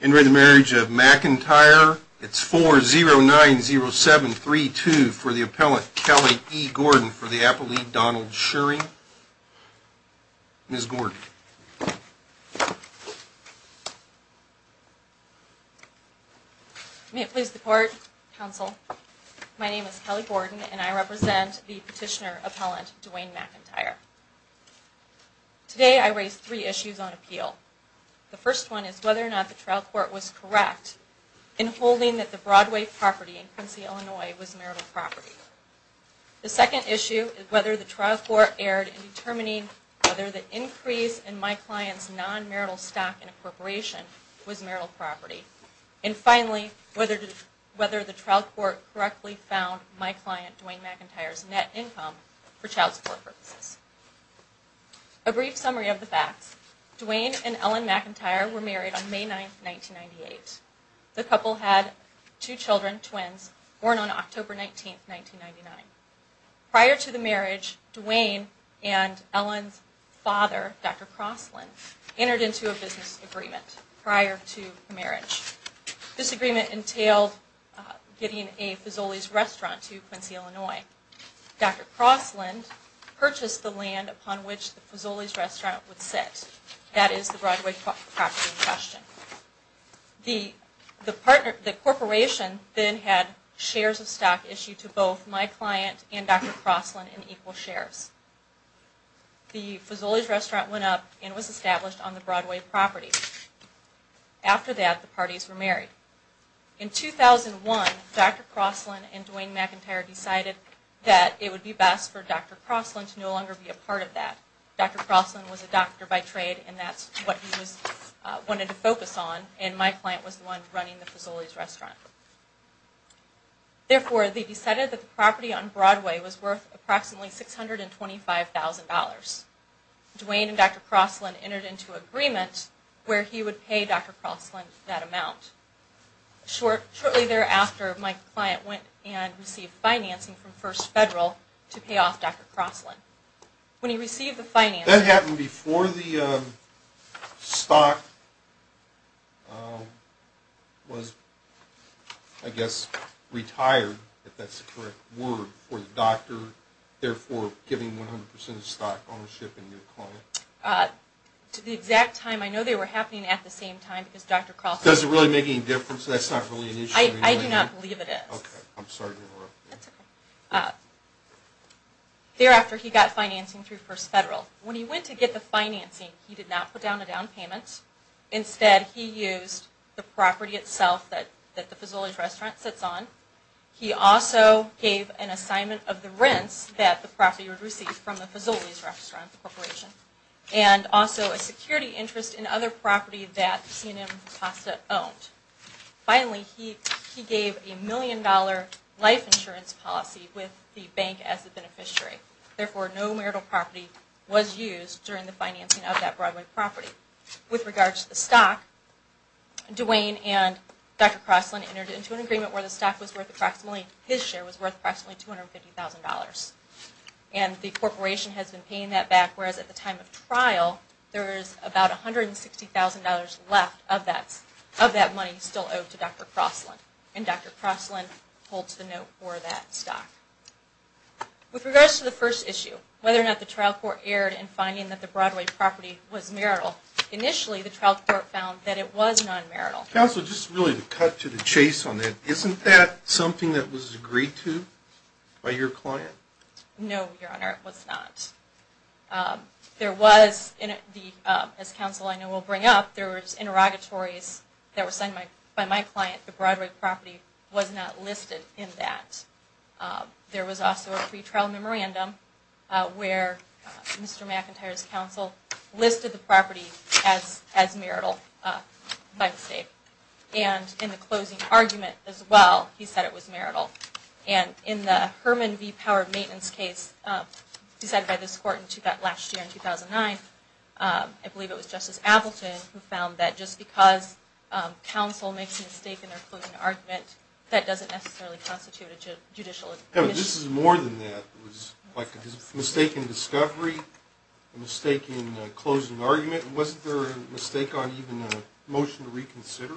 It's 4-0-9-0-7-3-2 for the Appellant Kelly E. Gordon for the Appellate Donald Schuring. Ms. Gordon. May it please the Court, Counsel, my name is Kelly Gordon and I represent the Petitioner Appellant Dwayne McIntyre. The first one is whether or not the trial court was correct in holding that the Broadway property in Quincy, Illinois was marital property. The second issue is whether the trial court erred in determining whether the increase in my client's non-marital stock in a corporation was marital property. And finally, whether the trial court correctly found my client Dwayne McIntyre's net income for child support purposes. A brief summary of the facts. Dwayne and Ellen McIntyre were married on May 9, 1998. The couple had two children, twins, born on October 19, 1999. Prior to the marriage, Dwayne and Ellen's father, Dr. Crossland, entered into a business agreement prior to the marriage. This agreement entailed getting a Fazoli's restaurant to Quincy, Illinois. Dr. Crossland purchased the land upon which the Fazoli's restaurant would sit. That is the Broadway property in question. The corporation then had shares of stock issued to both my client and Dr. Crossland in equal shares. The Fazoli's restaurant went up and was established on the Broadway property. After that, the parties were married. In 2001, Dr. Crossland and Dwayne McIntyre decided that it would be best for Dr. Crossland to no longer be a part of that. Dr. Crossland was a doctor by trade, and that's what he wanted to focus on, and my client was the one running the Fazoli's restaurant. Therefore, they decided that the property on Broadway was worth approximately $625,000. Dwayne and Dr. Crossland entered into an agreement where he would pay Dr. Crossland that amount. Shortly thereafter, my client went and received financing from First Federal to pay off Dr. Crossland. When he received the financing... That happened before the stock was, I guess, retired, if that's the correct word, for the doctor, therefore giving 100% of the stock ownership to your client? To the exact time. I know they were happening at the same time because Dr. Crossland... Does it really make any difference? That's not really an issue? I do not believe it is. Okay. I'm sorry to interrupt. That's okay. Thereafter, he got financing through First Federal. When he went to get the financing, he did not put down a down payment. Instead, he used the property itself that the Fazoli's restaurant sits on. He also gave an assignment of the rents that the property would receive from the Fazoli's restaurant corporation, and also a security interest in other property that C&M Pasta owned. Finally, he gave a million dollar life insurance policy with the bank as the beneficiary. Therefore, no marital property was used during the financing of that Broadway property. With regards to the stock, Duane and Dr. Crossland entered into an agreement where the stock was worth approximately... His share was worth approximately $250,000. And the corporation has been paying that back, whereas at the time of trial, there is about $160,000 left of that money still owed to Dr. Crossland. And Dr. Crossland holds the note for that stock. With regards to the first issue, whether or not the trial court erred in finding that the Broadway property was marital, initially the trial court found that it was non-marital. Counsel, just really to cut to the chase on that, isn't that something that was agreed to by your client? No, Your Honor, it was not. There was, as counsel I know will bring up, there was interrogatories that were signed by my client. The Broadway property was not listed in that. There was also a pre-trial memorandum where Mr. McIntyre's counsel listed the property as marital by mistake. And in the closing argument as well, he said it was marital. And in the Herman V. Power maintenance case decided by this court last year in 2009, I believe it was Justice Appleton who found that just because counsel makes a mistake in their closing argument, that doesn't necessarily constitute a judicial admission. This is more than that. It was a mistake in discovery, a mistake in closing argument. Wasn't there a mistake on even a motion to reconsider?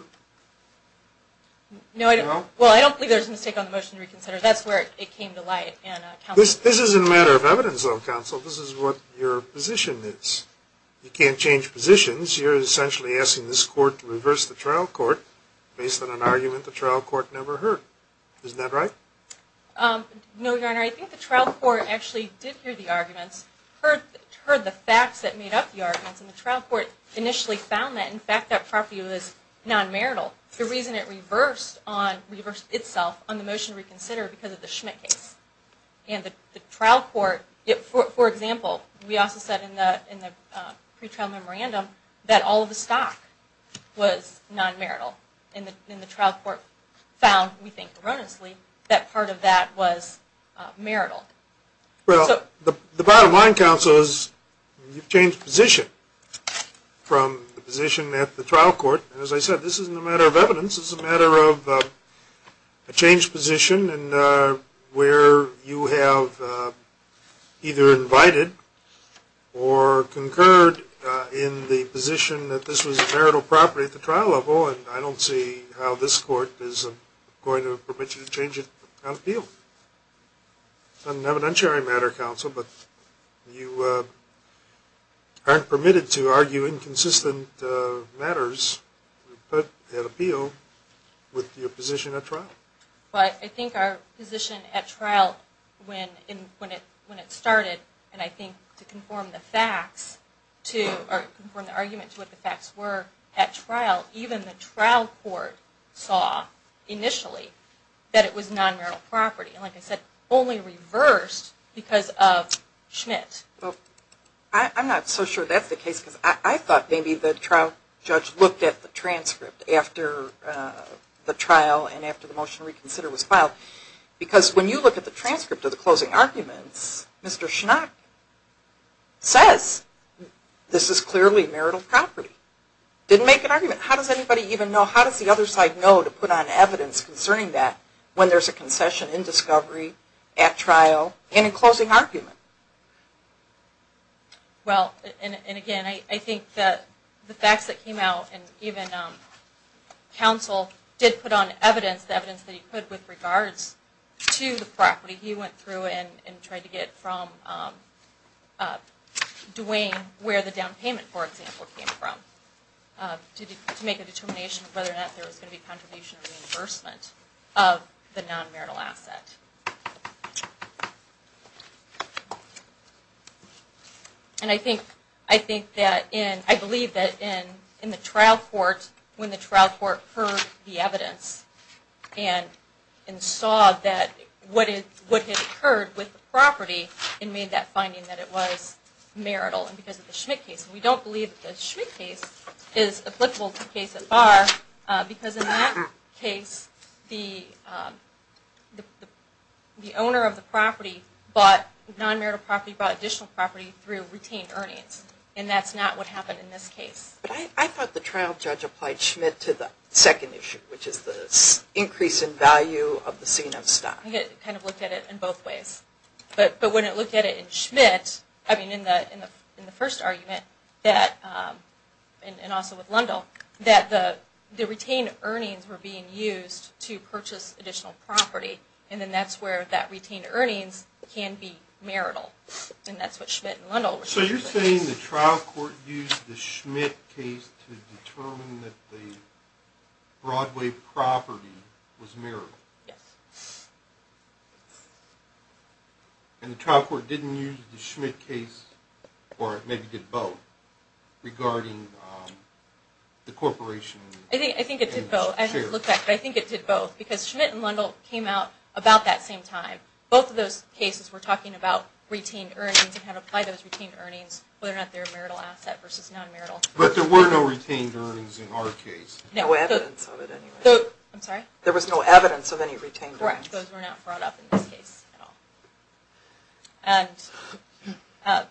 No, I don't believe there was a mistake on the motion to reconsider. That's where it came to light. This isn't a matter of evidence, though, counsel. This is what your position is. You can't change positions. You're essentially asking this court to reverse the trial court based on an argument the trial court never heard. Isn't that right? No, Your Honor. I think the trial court actually did hear the arguments, heard the facts that made up the arguments, and the trial court initially found that, in fact, that property was non-marital. The reason it reversed itself on the motion to reconsider was because of the Schmidt case. And the trial court, for example, we also said in the pre-trial memorandum that all of the stock was non-marital. And the trial court found, we think erroneously, that part of that was marital. Well, the bottom line, counsel, is you've changed position from the position at the trial court. As I said, this isn't a matter of evidence. It's a matter of a changed position and where you have either invited or concurred in the position that this was a marital property at the trial level. And I don't see how this court is going to permit you to change it on appeal. It's an evidentiary matter, counsel, but you aren't permitted to argue inconsistent matters at appeal with your position at trial. But I think our position at trial when it started, and I think to conform the facts to or conform the argument to what the facts were at trial, even the trial court saw initially that it was non-marital property. And like I said, only reversed because of Schmidt. I'm not so sure that's the case because I thought maybe the trial judge looked at the transcript after the trial and after the motion to reconsider was filed. Because when you look at the transcript of the closing arguments, Mr. Schnack says this is clearly marital property. Didn't make an argument. How does anybody even know, how does the other side know to put on evidence concerning that when there's a concession in discovery, at trial, and in closing argument? Well, and again, I think that the facts that came out and even counsel did put on evidence, evidence that he could with regards to the property. He went through and tried to get from Duane where the down payment, for example, came from to make a determination of whether or not there was going to be contribution or reimbursement of the non-marital asset. And I think that in, I believe that in the trial court, when the trial court heard the evidence and saw that what had occurred with the property and made that finding that it was marital because of the Schmidt case. We don't believe that the Schmidt case is applicable to the case at bar because in that case the owner of the property bought non-marital property, bought additional property, through retained earnings. And that's not what happened in this case. I thought the trial judge applied Schmidt to the second issue, which is the increase in value of the scene of stock. It kind of looked at it in both ways. But when it looked at it in Schmidt, I mean in the first argument, and also with Lundell, that the retained earnings were being used to purchase additional property. And then that's where that retained earnings can be marital. And that's what Schmidt and Lundell were saying. So you're saying the trial court used the Schmidt case to determine that the Broadway property was marital? Yes. And the trial court didn't use the Schmidt case, or maybe did both, regarding the corporation? I think it did both. I haven't looked back, but I think it did both. Because Schmidt and Lundell came out about that same time. Both of those cases were talking about retained earnings and how to apply those retained earnings, whether or not they were marital asset versus non-marital. But there were no retained earnings in our case. No evidence of it anyway. I'm sorry? There was no evidence of any retained earnings. Correct. Those were not brought up in this case at all. And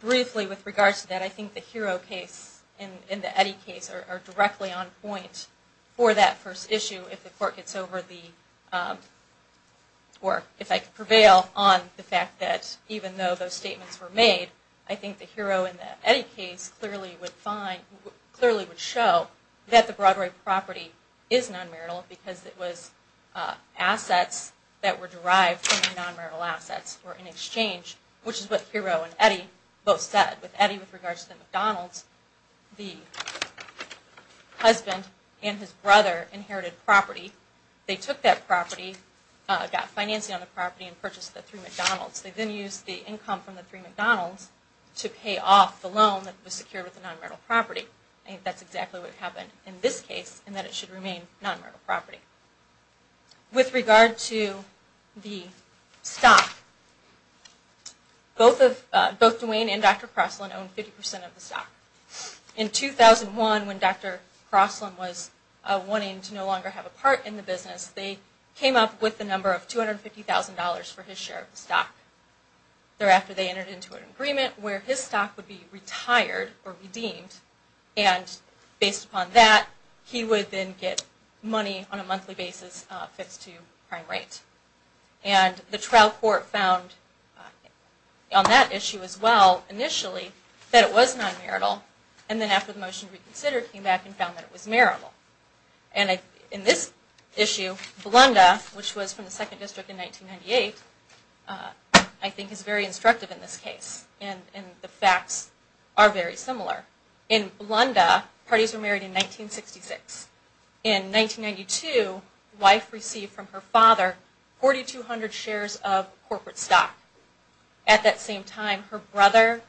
briefly with regards to that, I think the Hero case and the Eddy case are directly on point for that first issue if the court gets over the, or if I could prevail on the fact that even though those statements were made, I think the Hero and the Eddy case clearly would find, because it was assets that were derived from the non-marital assets were in exchange, which is what Hero and Eddy both said. With Eddy, with regards to the McDonald's, the husband and his brother inherited property. They took that property, got financing on the property, and purchased the three McDonald's. They then used the income from the three McDonald's to pay off the loan that was secured with the non-marital property. I think that's exactly what happened in this case, in that it should remain non-marital property. With regard to the stock, both Duane and Dr. Crossland owned 50% of the stock. In 2001, when Dr. Crossland was wanting to no longer have a part in the business, they came up with the number of $250,000 for his share of the stock. Thereafter, they entered into an agreement where his stock would be retired or redeemed, and based upon that, he would then get money on a monthly basis fixed to prime rate. And the trial court found on that issue as well, initially, that it was non-marital, and then after the motion reconsidered, came back and found that it was marital. In this issue, Blunda, which was from the Second District in 1998, I think is very instructive in this case, and the facts are very similar. In Blunda, parties were married in 1966. In 1992, the wife received from her father 4,200 shares of corporate stock. At that same time, her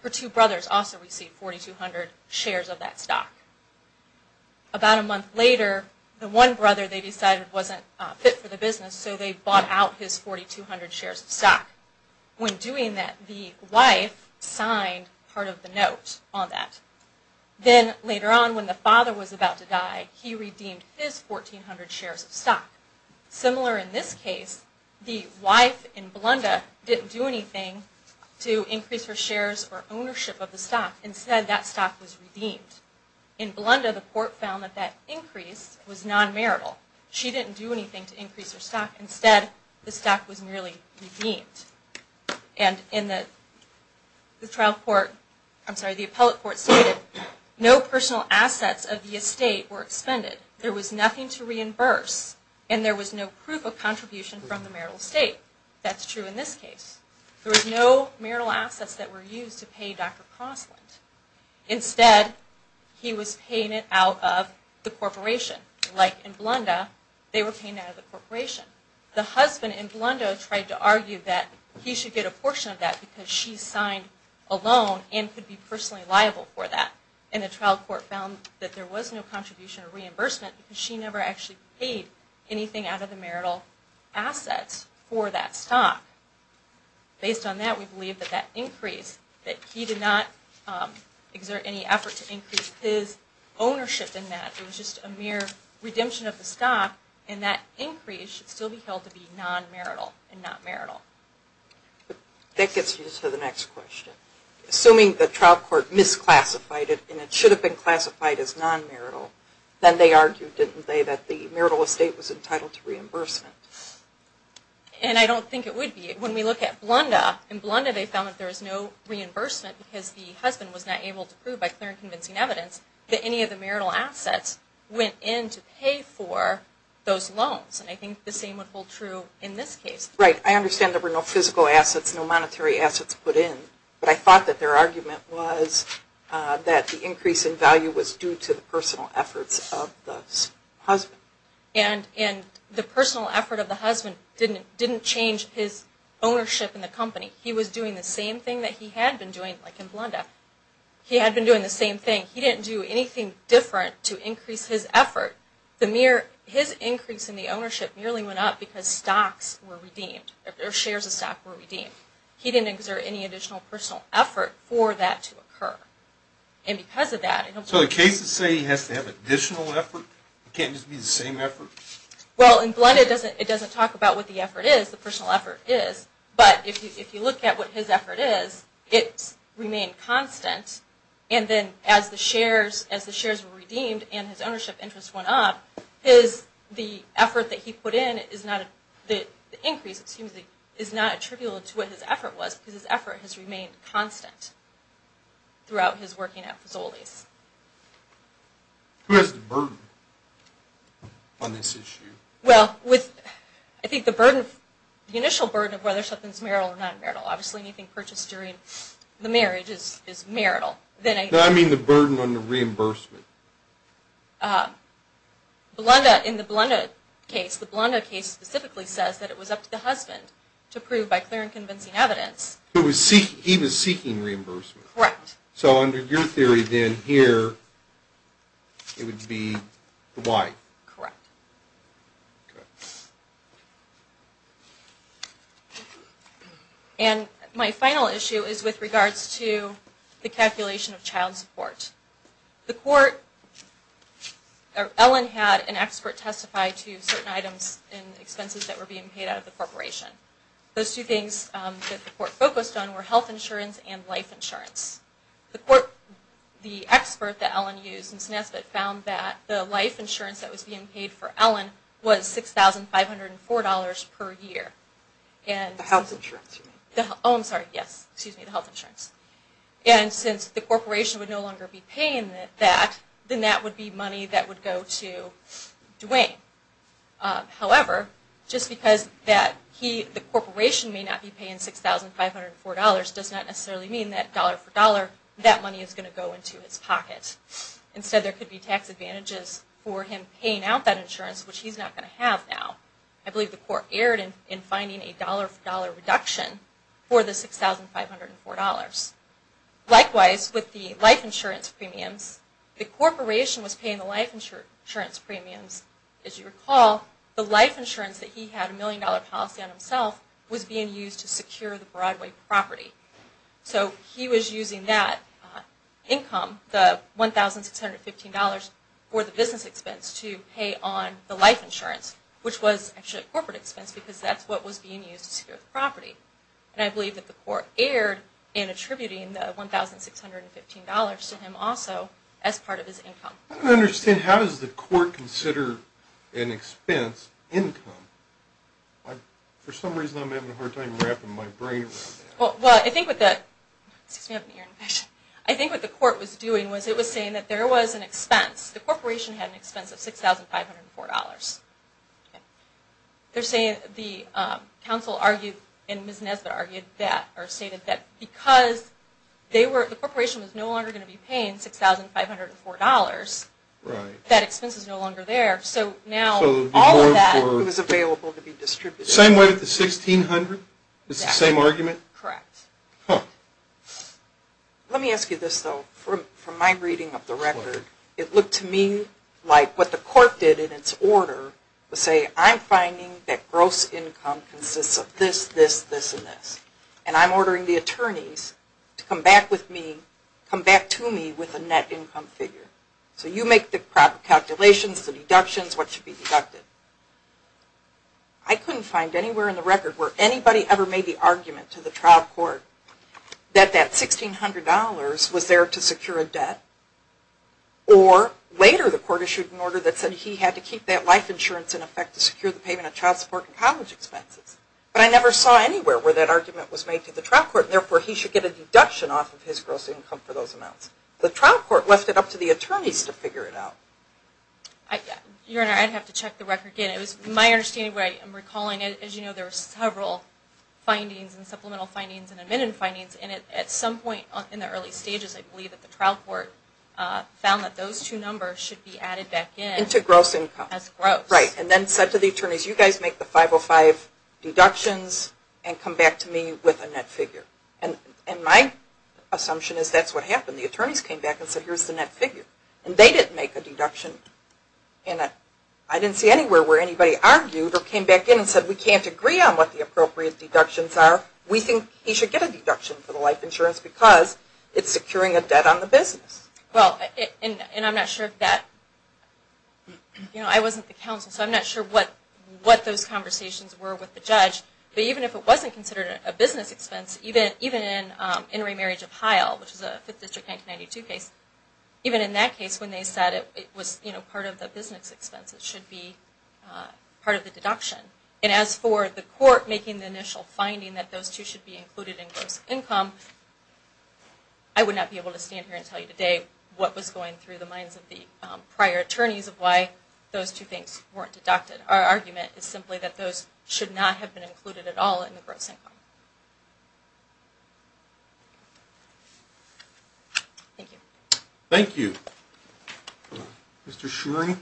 two brothers also received 4,200 shares of that stock. About a month later, the one brother they decided wasn't fit for the business, so they bought out his 4,200 shares of stock. When doing that, the wife signed part of the note on that. Then later on, when the father was about to die, he redeemed his 1,400 shares of stock. Similar in this case, the wife in Blunda didn't do anything to increase her shares or ownership of the stock. Instead, that stock was redeemed. In Blunda, the court found that that increase was non-marital. She didn't do anything to increase her stock. Instead, the stock was merely redeemed. And in the trial court, I'm sorry, the appellate court stated, no personal assets of the estate were expended. There was nothing to reimburse, and there was no proof of contribution from the marital estate. That's true in this case. There was no marital assets that were used to pay Dr. Crossland. Instead, he was paying it out of the corporation. Like in Blunda, they were paying out of the corporation. The husband in Blunda tried to argue that he should get a portion of that because she signed a loan and could be personally liable for that. And the trial court found that there was no contribution or reimbursement because she never actually paid anything out of the marital assets for that stock. Based on that, we believe that that increase, that he did not exert any effort to increase his ownership in that. It was just a mere redemption of the stock, and that increase should still be held to be non-marital and not marital. That gets me to the next question. Assuming the trial court misclassified it and it should have been classified as non-marital, then they argued, didn't they, that the marital estate was entitled to reimbursement. And I don't think it would be. When we look at Blunda, in Blunda they found that there was no reimbursement because the husband was not able to prove by clear and convincing evidence that any of the marital assets went in to pay for those loans. And I think the same would hold true in this case. Right. I understand there were no physical assets, no monetary assets put in. But I thought that their argument was that the increase in value was due to the personal efforts of the husband. And the personal effort of the husband didn't change his ownership in the company. He was doing the same thing that he had been doing, like in Blunda. He had been doing the same thing. He didn't do anything different to increase his effort. His increase in the ownership merely went up because stocks were redeemed, or shares of stock were redeemed. He didn't exert any additional personal effort for that to occur. And because of that... So the cases say he has to have additional effort? It can't just be the same effort? Well, in Blunda it doesn't talk about what the effort is, the personal effort is. But if you look at what his effort is, it's remained constant. And then as the shares were redeemed and his ownership interest went up, the effort that he put in, the increase, excuse me, is not attributable to what his effort was because his effort has remained constant throughout his working at Fazoli's. Who has the burden on this issue? Well, I think the initial burden of whether something is marital or non-marital, obviously anything purchased during the marriage is marital. No, I mean the burden on the reimbursement. In the Blunda case, the Blunda case specifically says that it was up to the husband to prove by clear and convincing evidence. He was seeking reimbursement? Correct. So under your theory then here it would be the wife? Correct. And my final issue is with regards to the calculation of child support. The court, Ellen had an expert testify to certain items and expenses that were being paid out of the corporation. Those two things that the court focused on were health insurance and life insurance. The court, the expert that Ellen used in SNESBIT found that the life insurance that was being paid for Ellen was $6,504 per year. The health insurance you mean? Oh, I'm sorry, yes, excuse me, the health insurance. And since the corporation would no longer be paying that, then that would be money that would go to Duane. However, just because the corporation may not be paying $6,504 does not necessarily mean that dollar for dollar that money is going to go into his pocket. Instead there could be tax advantages for him paying out that insurance, which he's not going to have now. I believe the court erred in finding a dollar for dollar reduction for the $6,504. Likewise, with the life insurance premiums, the corporation was paying the life insurance premiums. As you recall, the life insurance that he had a million dollar policy on himself was being used to secure the Broadway property. So he was using that income, the $1,615, for the business expense to pay on the life insurance, which was actually a corporate expense because that's what was being used to secure the property. And I believe that the court erred in attributing the $1,615 to him also as part of his income. I don't understand, how does the court consider an expense income? For some reason I'm having a hard time wrapping my brain around that. Well, I think what the court was doing was it was saying that there was an expense. The corporation had an expense of $6,504. The counsel argued, and Ms. Nesbitt argued that, or stated that, because the corporation was no longer going to be paying $6,504, that expense is no longer there. So now all of that was available to be distributed. Same way with the $1,600? It's the same argument? Correct. Let me ask you this, though. From my reading of the record, it looked to me like what the court did in its order was say, I'm finding that gross income consists of this, this, this, and this. And I'm ordering the attorneys to come back to me with a net income figure. So you make the calculations, the deductions, what should be deducted. I couldn't find anywhere in the record where anybody ever made the argument to the trial court that that $1,600 was there to secure a debt, or later the court issued an order that said he had to keep that life insurance in effect to secure the payment of child support and college expenses. But I never saw anywhere where that argument was made to the trial court, and therefore he should get a deduction off of his gross income for those amounts. The trial court left it up to the attorneys to figure it out. Your Honor, I'd have to check the record again. It was my understanding, but I am recalling, as you know, there were several findings and supplemental findings and amended findings, and at some point in the early stages I believe that the trial court found that those two numbers should be added back in. Into gross income. As gross. Right. And then said to the attorneys, you guys make the 505 deductions and come back to me with a net figure. And my assumption is that's what happened. The attorneys came back and said, here's the net figure. And they didn't make a deduction. I didn't see anywhere where anybody argued or came back in and said, we can't agree on what the appropriate deductions are. We think he should get a deduction for the life insurance because it's securing a debt on the business. Well, and I'm not sure if that, you know, I wasn't the counsel, so I'm not sure what those conversations were with the judge. But even if it wasn't considered a business expense, even in In Remarriage of Heil, which is a Fifth District 1992 case, even in that case when they said it was part of the business expense, it should be part of the deduction. And as for the court making the initial finding that those two should be included in gross income, I would not be able to stand here and tell you today what was going through the minds of the prior attorneys of why those two things weren't deducted. Our argument is simply that those should not have been included at all in the gross income. Thank you. Thank you. Mr. Shurey?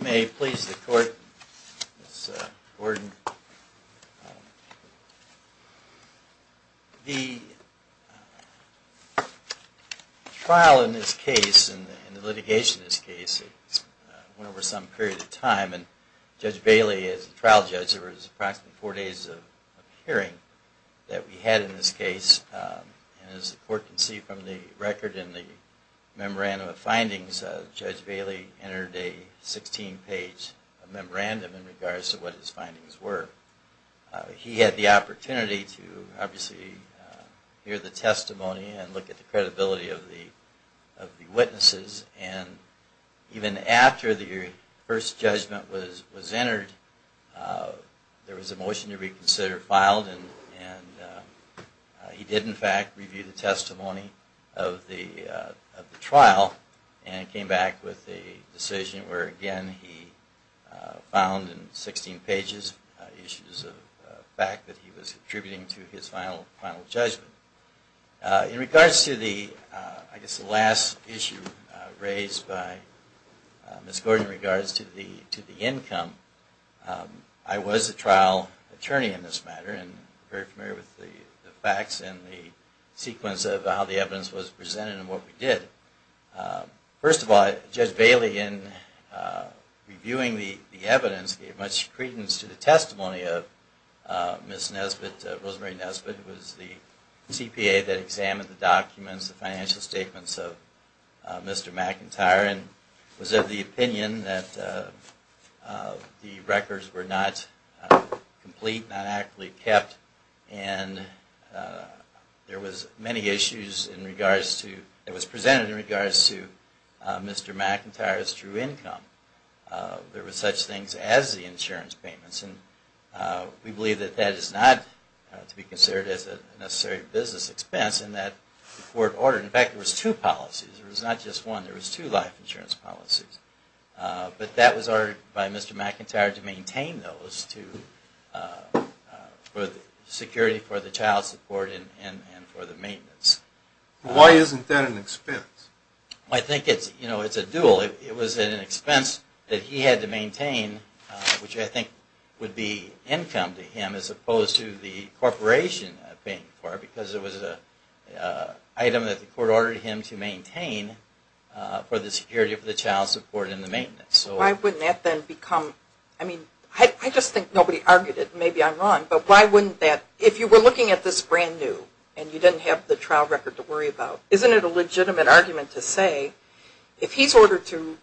May it please the Court, Mr. Gordon. The trial in this case and the litigation in this case went over some period of time, and Judge Bailey, as the trial judge, there was approximately four days of hearing that we had in this case. And as the Court can see from the record in the memorandum of findings, Judge Bailey entered a 16-page memorandum in regards to what his findings were. He had the opportunity to obviously hear the testimony and look at the credibility of the witnesses. And even after the first judgment was entered, there was a motion to reconsider filed, and he did, in fact, review the testimony of the trial and came back with a decision where, again, he found in 16 pages issues of fact that he was contributing to his final judgment. In regards to the, I guess, the last issue raised by Ms. Gordon in regards to the income, I was a trial attorney in this matter and very familiar with the facts and the sequence of how the evidence was presented and what we did. First of all, Judge Bailey, in reviewing the evidence, gave much credence to the testimony of Ms. Rosemary Nesbitt, who was the CPA that examined the documents, the financial statements of Mr. McIntyre and was of the opinion that the records were not complete, not adequately kept, and there was many issues in regards to, that was presented in regards to Mr. McIntyre's true income. There was such things as the insurance payments, and we believe that that is not to be considered as a necessary business expense and that the court ordered, in fact, there was two policies, there was not just one, there was two life insurance policies, but that was ordered by Mr. McIntyre to maintain those for the security, for the child support, and for the maintenance. Why isn't that an expense? I think it's a dual. It was an expense that he had to maintain, which I think would be income to him as opposed to the corporation paying for it because it was an item that the court ordered him to maintain for the security of the child support and the maintenance. Why wouldn't that then become, I mean, I just think nobody argued it, maybe I'm wrong, but why wouldn't that, if you were looking at this brand new and you didn't have the trial record to worry about, isn't it a good argument to say if he's ordered to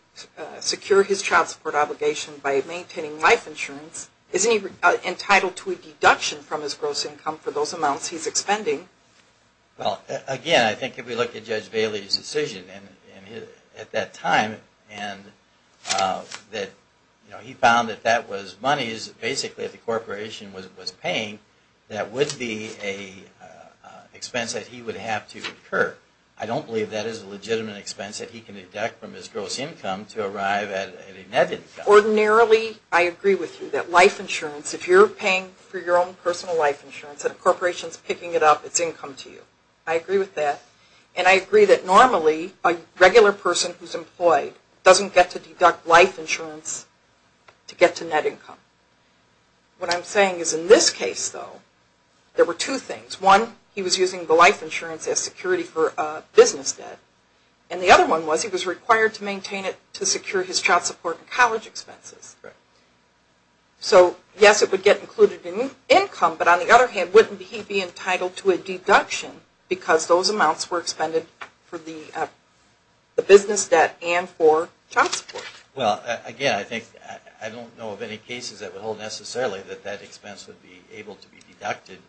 secure his child support obligation by maintaining life insurance, isn't he entitled to a deduction from his gross income for those amounts he's expending? Well, again, I think if we look at Judge Bailey's decision at that time and that he found that that was monies basically that the corporation was paying, that would be an expense that he would have to incur. I don't believe that is a legitimate expense that he can deduct from his gross income to arrive at a net income. Ordinarily, I agree with you that life insurance, if you're paying for your own personal life insurance and a corporation is picking it up, it's income to you. I agree with that. And I agree that normally a regular person who's employed doesn't get to deduct life insurance to get to net income. What I'm saying is in this case, though, there were two things. One, he was using the life insurance as security for business debt. And the other one was he was required to maintain it to secure his child support and college expenses. So, yes, it would get included in income, but on the other hand, wouldn't he be entitled to a deduction because those amounts were expended for the business debt and for child support? Well, again, I think I don't know of any cases at all necessarily that that expense would be able to be deducted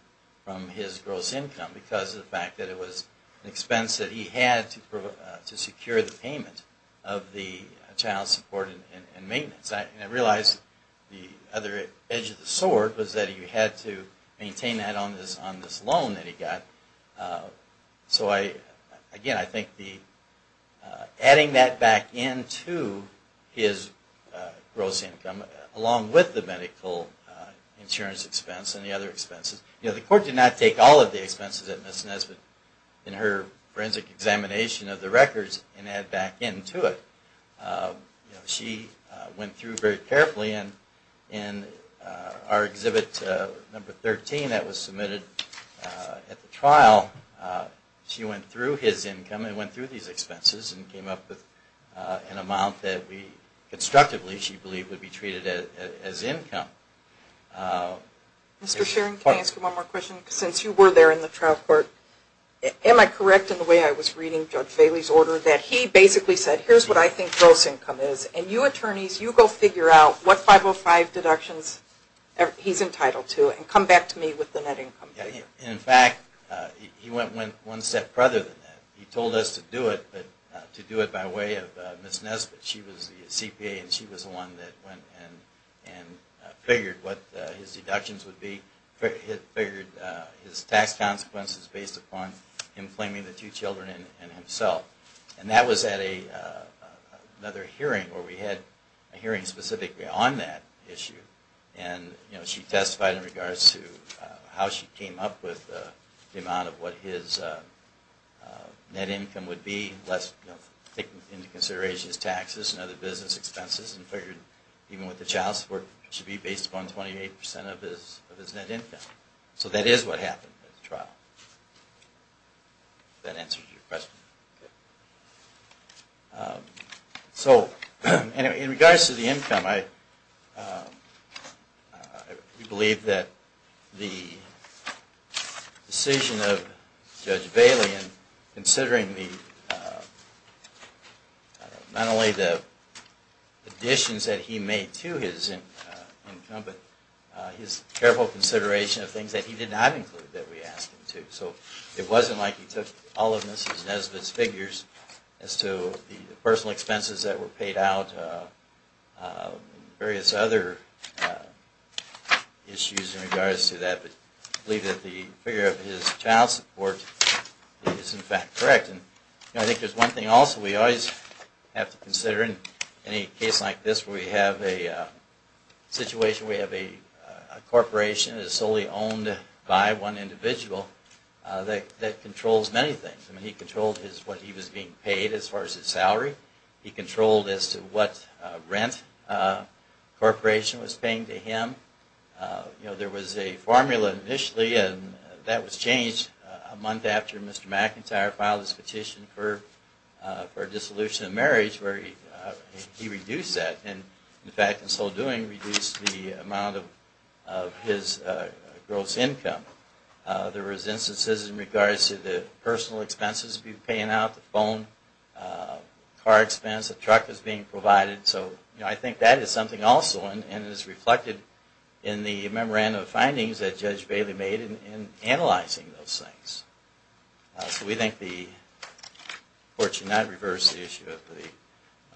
from his gross income because of the fact that it was an expense that he had to secure the payment of the child support and maintenance. And I realize the other edge of the sword was that he had to maintain that on this loan that he got. So, again, I think adding that back into his gross income along with the medical insurance expense and the other expenses. You know, the court did not take all of the expenses at Ms. Nesbitt in her forensic examination of the records and add back into it. She went through very carefully, and in our exhibit number 13 that was submitted at the trial, she went through his income and went through these expenses and came up with an amount that we constructively, she was entitled to. Mr. Shearing, can I ask you one more question? Since you were there in the trial court, am I correct in the way I was reading Judge Bailey's order that he basically said, here's what I think gross income is, and you attorneys, you go figure out what 505 deductions he's entitled to and come back to me with the net income figure? In fact, he went one step further than that. He told us to do it, but to do it by way of Ms. Nesbitt. She was the CPA and she was the one that went and figured what his deductions would be, figured his tax consequences based upon him claiming the two children and himself. And that was at another hearing where we had a hearing specifically on that issue, and she testified in regards to how she came up with the amount of what his net income would be, taking into consideration his taxes and other business expenses and figured even with the child support it should be based upon 28% of his net income. So that is what happened at the trial. Does that answer your question? Okay. So, in regards to the income, we believe that the decision of Judge Smith and the additions that he made to his income, but his careful consideration of things that he did not include that we asked him to. So it wasn't like he took all of Ms. Nesbitt's figures as to the personal expenses that were paid out and various other issues in regards to that. But we believe that the figure of his child support is in fact correct. And I think there's one thing also we always have to consider in any case like this where we have a situation where we have a corporation that is solely owned by one individual that controls many things. I mean, he controlled what he was being paid as far as his salary. He controlled as to what rent the corporation was paying to him. There was a formula initially, and that was changed a month after Mr. Smith's petition for dissolution of marriage where he reduced that. And in fact, in so doing, reduced the amount of his gross income. There was instances in regards to the personal expenses being paid out, the phone, car expense, the truck was being provided. So I think that is something also and is reflected in the memorandum of findings that Judge Bailey made in analyzing those things. So we think the court should not reverse the issue of the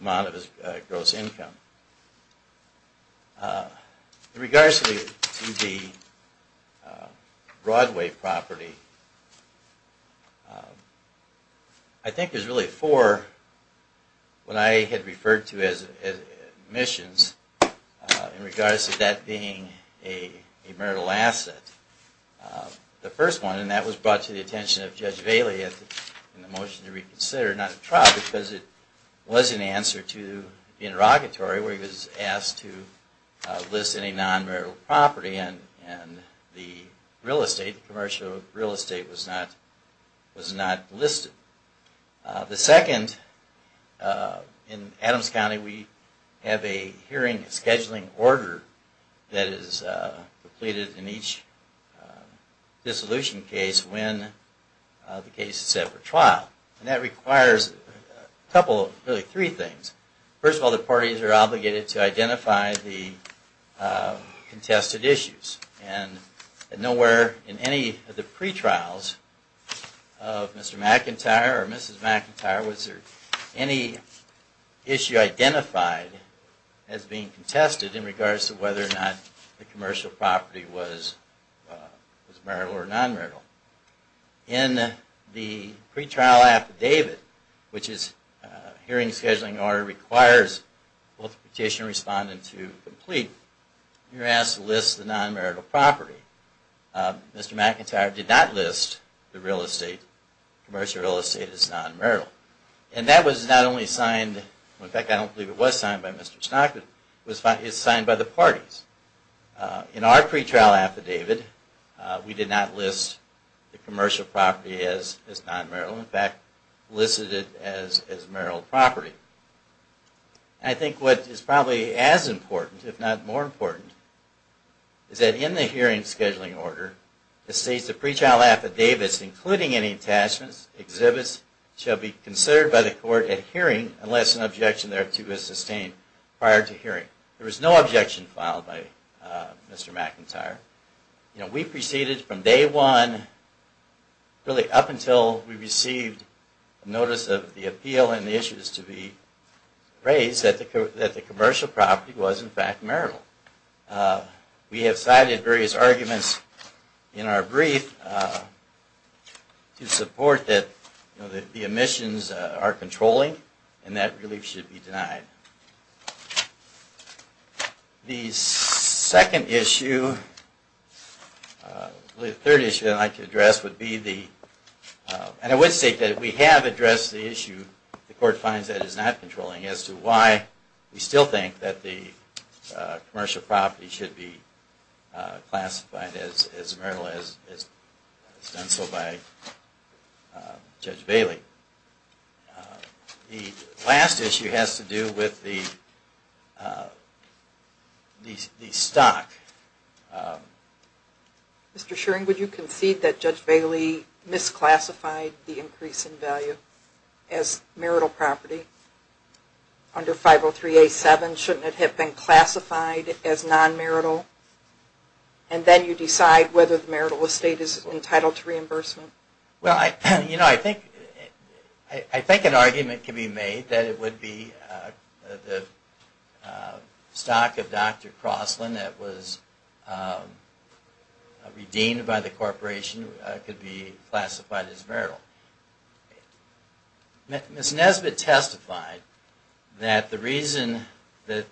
amount of his gross income. In regards to the Broadway property, I think there's really four what I had referred to as emissions in regards to that being a marital asset. The first one, and that was brought to the attention of Judge Bailey in the motion to reconsider, not the trial, because it was an answer to the interrogatory where he was asked to list any non-marital property and the real estate, commercial real estate was not listed. The second, in Adams County we have a hearing scheduling order that is completed in each dissolution case when the case is set for trial. And that requires a couple, really three things. First of all, the parties are obligated to identify the contested issues. And nowhere in any of the pretrials of Mr. McIntyre or Mrs. McIntyre was there any issue identified as being contested in regards to whether or not the commercial property was marital or non-marital. In the pretrial affidavit, which is a hearing scheduling order that requires both the petitioner and respondent to complete, you're asked to list the non-marital property. Mr. McIntyre did not list the commercial real estate as non-marital. And that was not only signed, in fact I don't believe it was signed by Mr. McIntyre. In our pretrial affidavit, we did not list the commercial property as non-marital. In fact, listed it as marital property. And I think what is probably as important, if not more important, is that in the hearing scheduling order, it states the pretrial affidavits, including any attachments, exhibits, shall be considered by the court at hearing unless an objection thereto is sustained prior to hearing. There was no objection filed by Mr. McIntyre. You know, we proceeded from day one, really up until we received notice of the appeal and the issues to be raised, that the commercial property was in fact marital. We have cited various arguments in our brief to support that the emissions are controlling and that relief should be denied. The second issue, the third issue I'd like to address would be the, and I would state that we have addressed the issue, the court finds that it is not controlling as to why we still think that the commercial property should be The last issue has to do with the stock. Mr. Shearing, would you concede that Judge Bailey misclassified the increase in value as marital property under 503A7? Shouldn't it have been classified as non-marital? And then you decide whether the marital estate is entitled to reimbursement. Well, you know, I think an argument can be made that it would be the stock of Dr. Crossland that was redeemed by the corporation could be classified as marital. Ms. Nesbitt testified that the reason that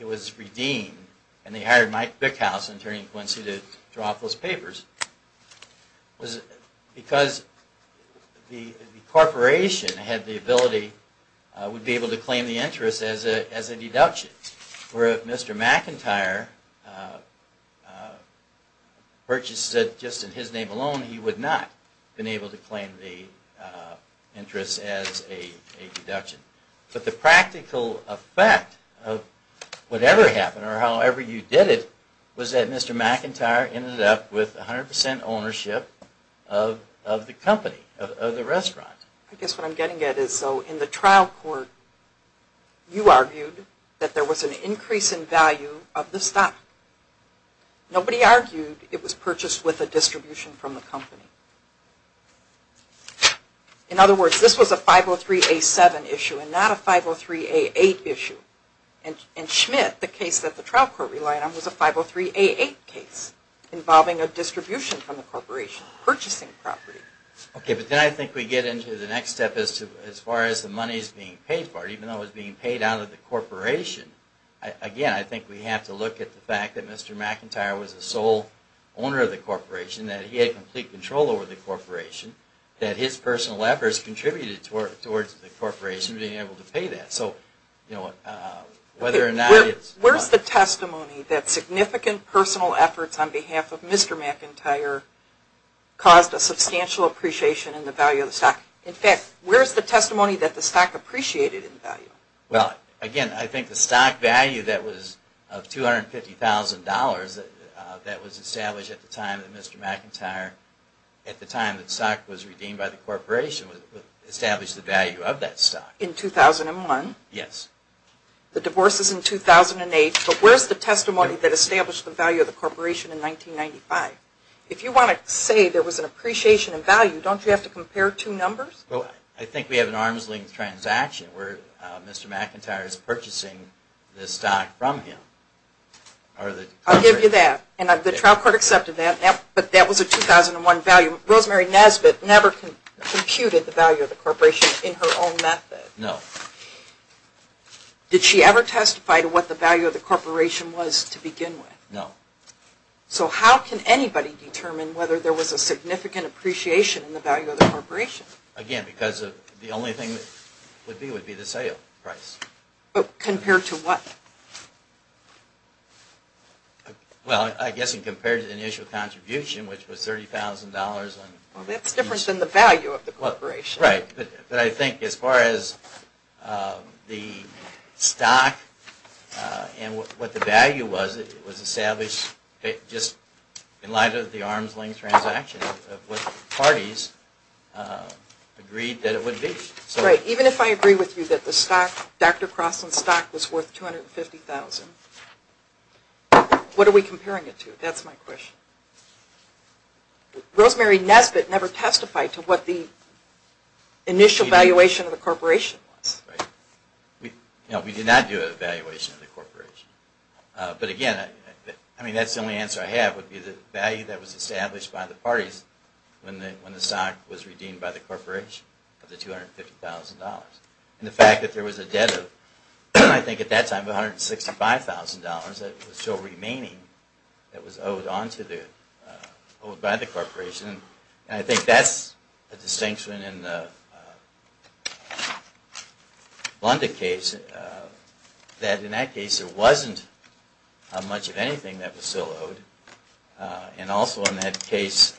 it was redeemed, and they hired Mike Bickhouse, an attorney in Quincy, to draw up those papers, was because the corporation had the ability, would be able to claim the interest as a deduction. Where if Mr. McIntyre purchased it just in his name alone, he would not have But the practical effect of whatever happened, or however you did it, was that Mr. McIntyre ended up with 100 percent ownership of the company, of the restaurant. I guess what I'm getting at is so in the trial court, you argued that there was an increase in value of the stock. In other words, this was a 503A7 issue and not a 503A8 issue. And Schmidt, the case that the trial court relied on, was a 503A8 case involving a distribution from the corporation, purchasing property. Okay, but then I think we get into the next step as far as the money is being paid for, even though it's being paid out of the corporation. Again, I think we have to look at the fact that Mr. McIntyre was the sole owner of the corporation, that he had complete control over the corporation, that his personal efforts contributed towards the corporation being able to pay that. So, you know, whether or not it's Where's the testimony that significant personal efforts on behalf of Mr. McIntyre caused a substantial appreciation in the value of the stock? In fact, where's the testimony that the stock appreciated in value? Well, again, I think the stock value that was of $250,000 that was established at the time that Mr. McIntyre, at the time the stock was redeemed by the corporation, established the value of that stock. In 2001? Yes. The divorce is in 2008, but where's the testimony that established the value of the corporation in 1995? If you want to say there was an appreciation in value, don't you have to compare two numbers? Well, I think we have an arm's length transaction where Mr. McIntyre is purchasing the stock from him. I'll give you that, and the trial court accepted that, but that was a 2001 value. Rosemary Nesbitt never computed the value of the corporation in her own method. No. Did she ever testify to what the value of the corporation was to begin with? No. So how can anybody determine whether there was a significant appreciation in the value of the corporation? Again, because the only thing that would be would be the sale price. But compared to what? Well, I guess in compared to the initial contribution, which was $30,000. Well, that's different than the value of the corporation. Right. But I think as far as the stock and what the value was, it was established just in light of the arm's length transaction of what the parties agreed that it would be. Right. Even if I agree with you that the stock, Dr. Crosland's stock, was worth $250,000, what are we comparing it to? That's my question. Rosemary Nesbitt never testified to what the initial valuation of the corporation was. Right. No, we did not do an evaluation of the corporation. But again, I mean, that's the only answer I have would be the value that was established by the parties when the stock was redeemed by the corporation was $250,000. And the fact that there was a debt of, I think at that time, $165,000 that was still remaining that was owed by the corporation. And I think that's a distinction in the Blunda case, that in that case there wasn't much of anything that was still owed. And also in that case,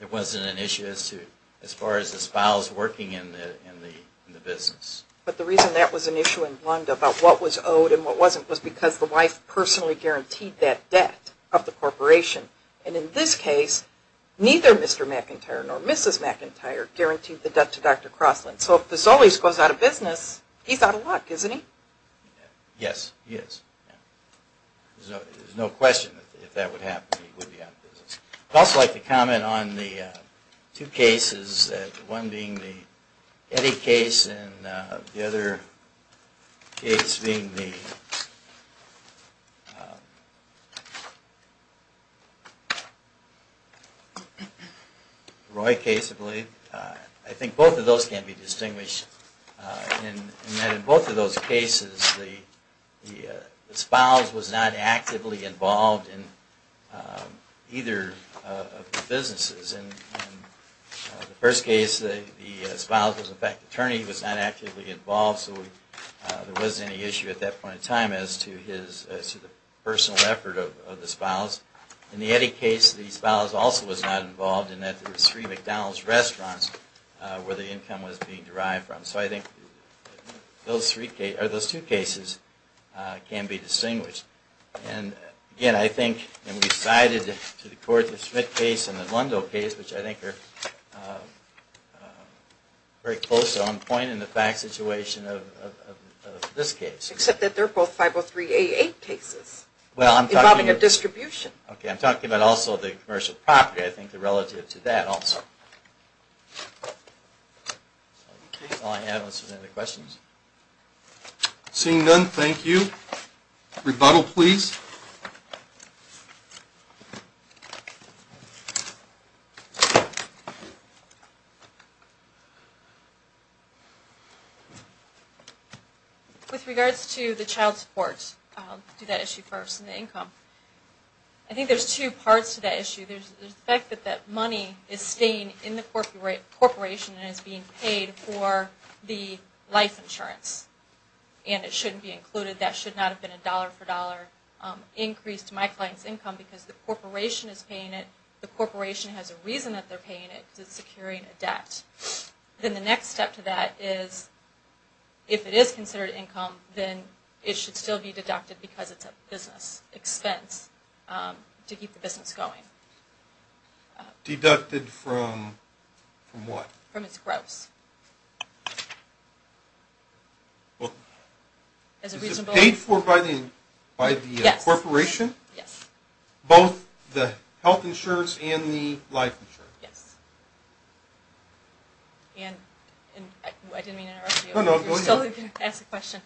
it wasn't an issue as far as the spouse working in the business. But the reason that was an issue in Blunda about what was owed and what wasn't was because the wife personally guaranteed that debt of the corporation. And in this case, neither Mr. McIntyre nor Mrs. McIntyre guaranteed the debt to Dr. Crosland. So if this always goes out of business, he's out of luck, isn't he? Yes, he is. There's no question that if that would happen, he would be out of business. I'd also like to comment on the two cases, one being the Eddy case and the other case being the Roy case, I believe. I think both of those can be distinguished in that in both of those cases, the spouse was not actively involved in either of the businesses. In the first case, the spouse was, in fact, the attorney was not actively involved, so there wasn't any issue at that point in time as to the personal effort of the spouse. In the Eddy case, the spouse also was not involved in that. There were three McDonald's restaurants where the income was being derived from. So I think those two cases can be distinguished. And again, I think, and we cited to the court the Schmidt case and the Lundo case, which I think are very close on point in the fact situation of this case. Except that they're both 503A8 cases involving a distribution. Okay, I'm talking about also the commercial property, I think, relative to that also. That's all I have unless there's any other questions. Seeing none, thank you. Rebuttal, please. With regards to the child support, I'll do that issue first and the income. There's the fact that that money is staying in the corporation and is being paid for the life insurance. And it shouldn't be included. That should not have been a dollar for dollar increase to my client's income because the corporation is paying it. The corporation has a reason that they're paying it. It's securing a debt. Then the next step to that is if it is considered income, then it should still be deducted because it's a business expense to keep the business going. Deducted from what? From its gross. Is it paid for by the corporation? Yes. Both the health insurance and the life insurance? Yes. And I didn't mean to interrupt you. No, no, go ahead. You're still going to ask a question.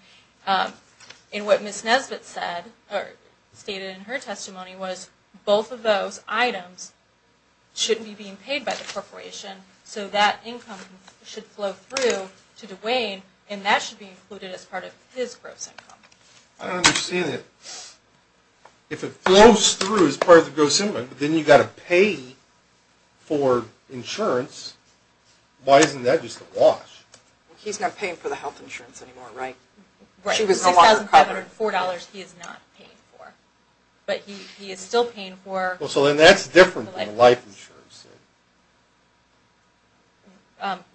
And what Ms. Nesbitt stated in her testimony was both of those items shouldn't be being paid by the corporation, so that income should flow through to DuWayne, and that should be included as part of his gross income. I don't understand it. If it flows through as part of the gross income, then you've got to pay for insurance. Why isn't that just a wash? He's not paying for the health insurance anymore, right? Right. The $6,504 he is not paying for. But he is still paying for the life insurance.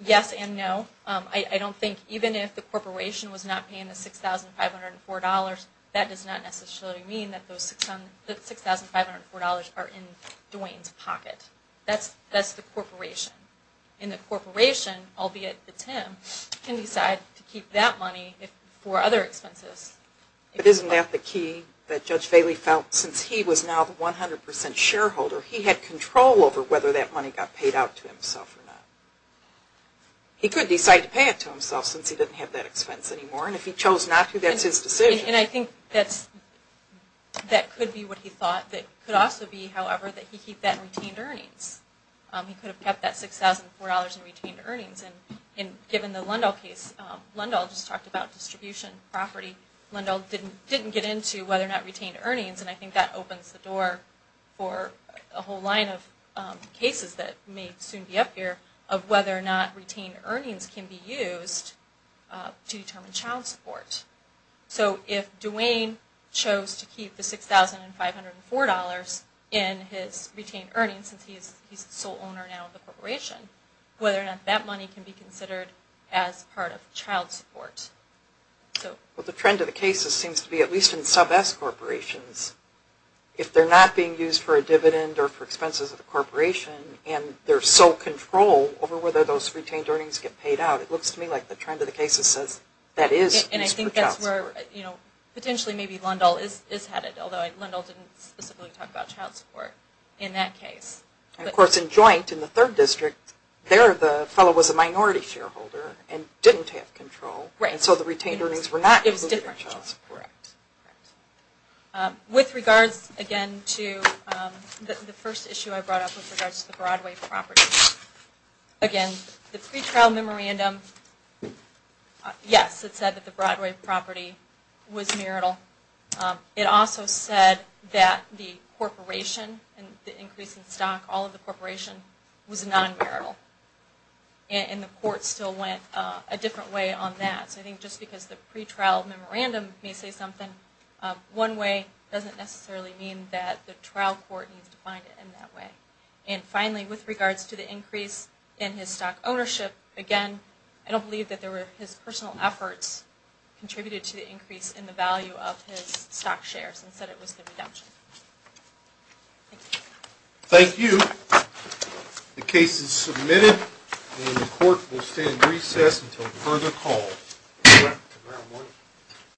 Yes and no. I don't think even if the corporation was not paying the $6,504, that does not necessarily mean that the $6,504 are in DuWayne's pocket. That's the corporation. And the corporation, albeit it's him, can decide to keep that money for other expenses. But isn't that the key that Judge Bailey felt since he was now the 100% shareholder, he had control over whether that money got paid out to himself or not. He could decide to pay it to himself since he didn't have that expense anymore. And if he chose not to, that's his decision. And I think that could be what he thought. It could also be, however, that he keep that in retained earnings. He could have kept that $6,004 in retained earnings. And given the Lundahl case, Lundahl just talked about distribution property. Lundahl didn't get into whether or not retained earnings. And I think that opens the door for a whole line of cases that may soon be up here of whether or not retained earnings can be used to determine child support. So if DuWayne chose to keep the $6,504 in his retained earnings since he's the sole owner now of the corporation, whether or not that money can be considered as part of child support. Well, the trend of the cases seems to be, at least in sub-S corporations, if they're not being used for a dividend or for expenses of the corporation and there's so control over whether those retained earnings get paid out, it looks to me like the trend of the cases says that is used for child support. And I think that's where potentially maybe Lundahl is headed, although Lundahl didn't specifically talk about child support in that case. Of course, in joint, in the third district, there the fellow was a minority shareholder and didn't have control. Right. And so the retained earnings were not included in child support. Correct. With regards, again, to the first issue I brought up with regards to the Broadway property. Again, the pretrial memorandum, yes, it said that the Broadway property was marital. It also said that the corporation and the increase in stock, all of the corporation, was non-marital. And the court still went a different way on that. So I think just because the pretrial memorandum may say something one way doesn't necessarily mean that the trial court needs to find it in that way. And finally, with regards to the increase in his stock ownership, again, I don't believe that there were his personal efforts contributed to the increase in the value of his stock shares and said it was the redemption. Thank you. Thank you. The case is submitted and the court will stand in recess until further call.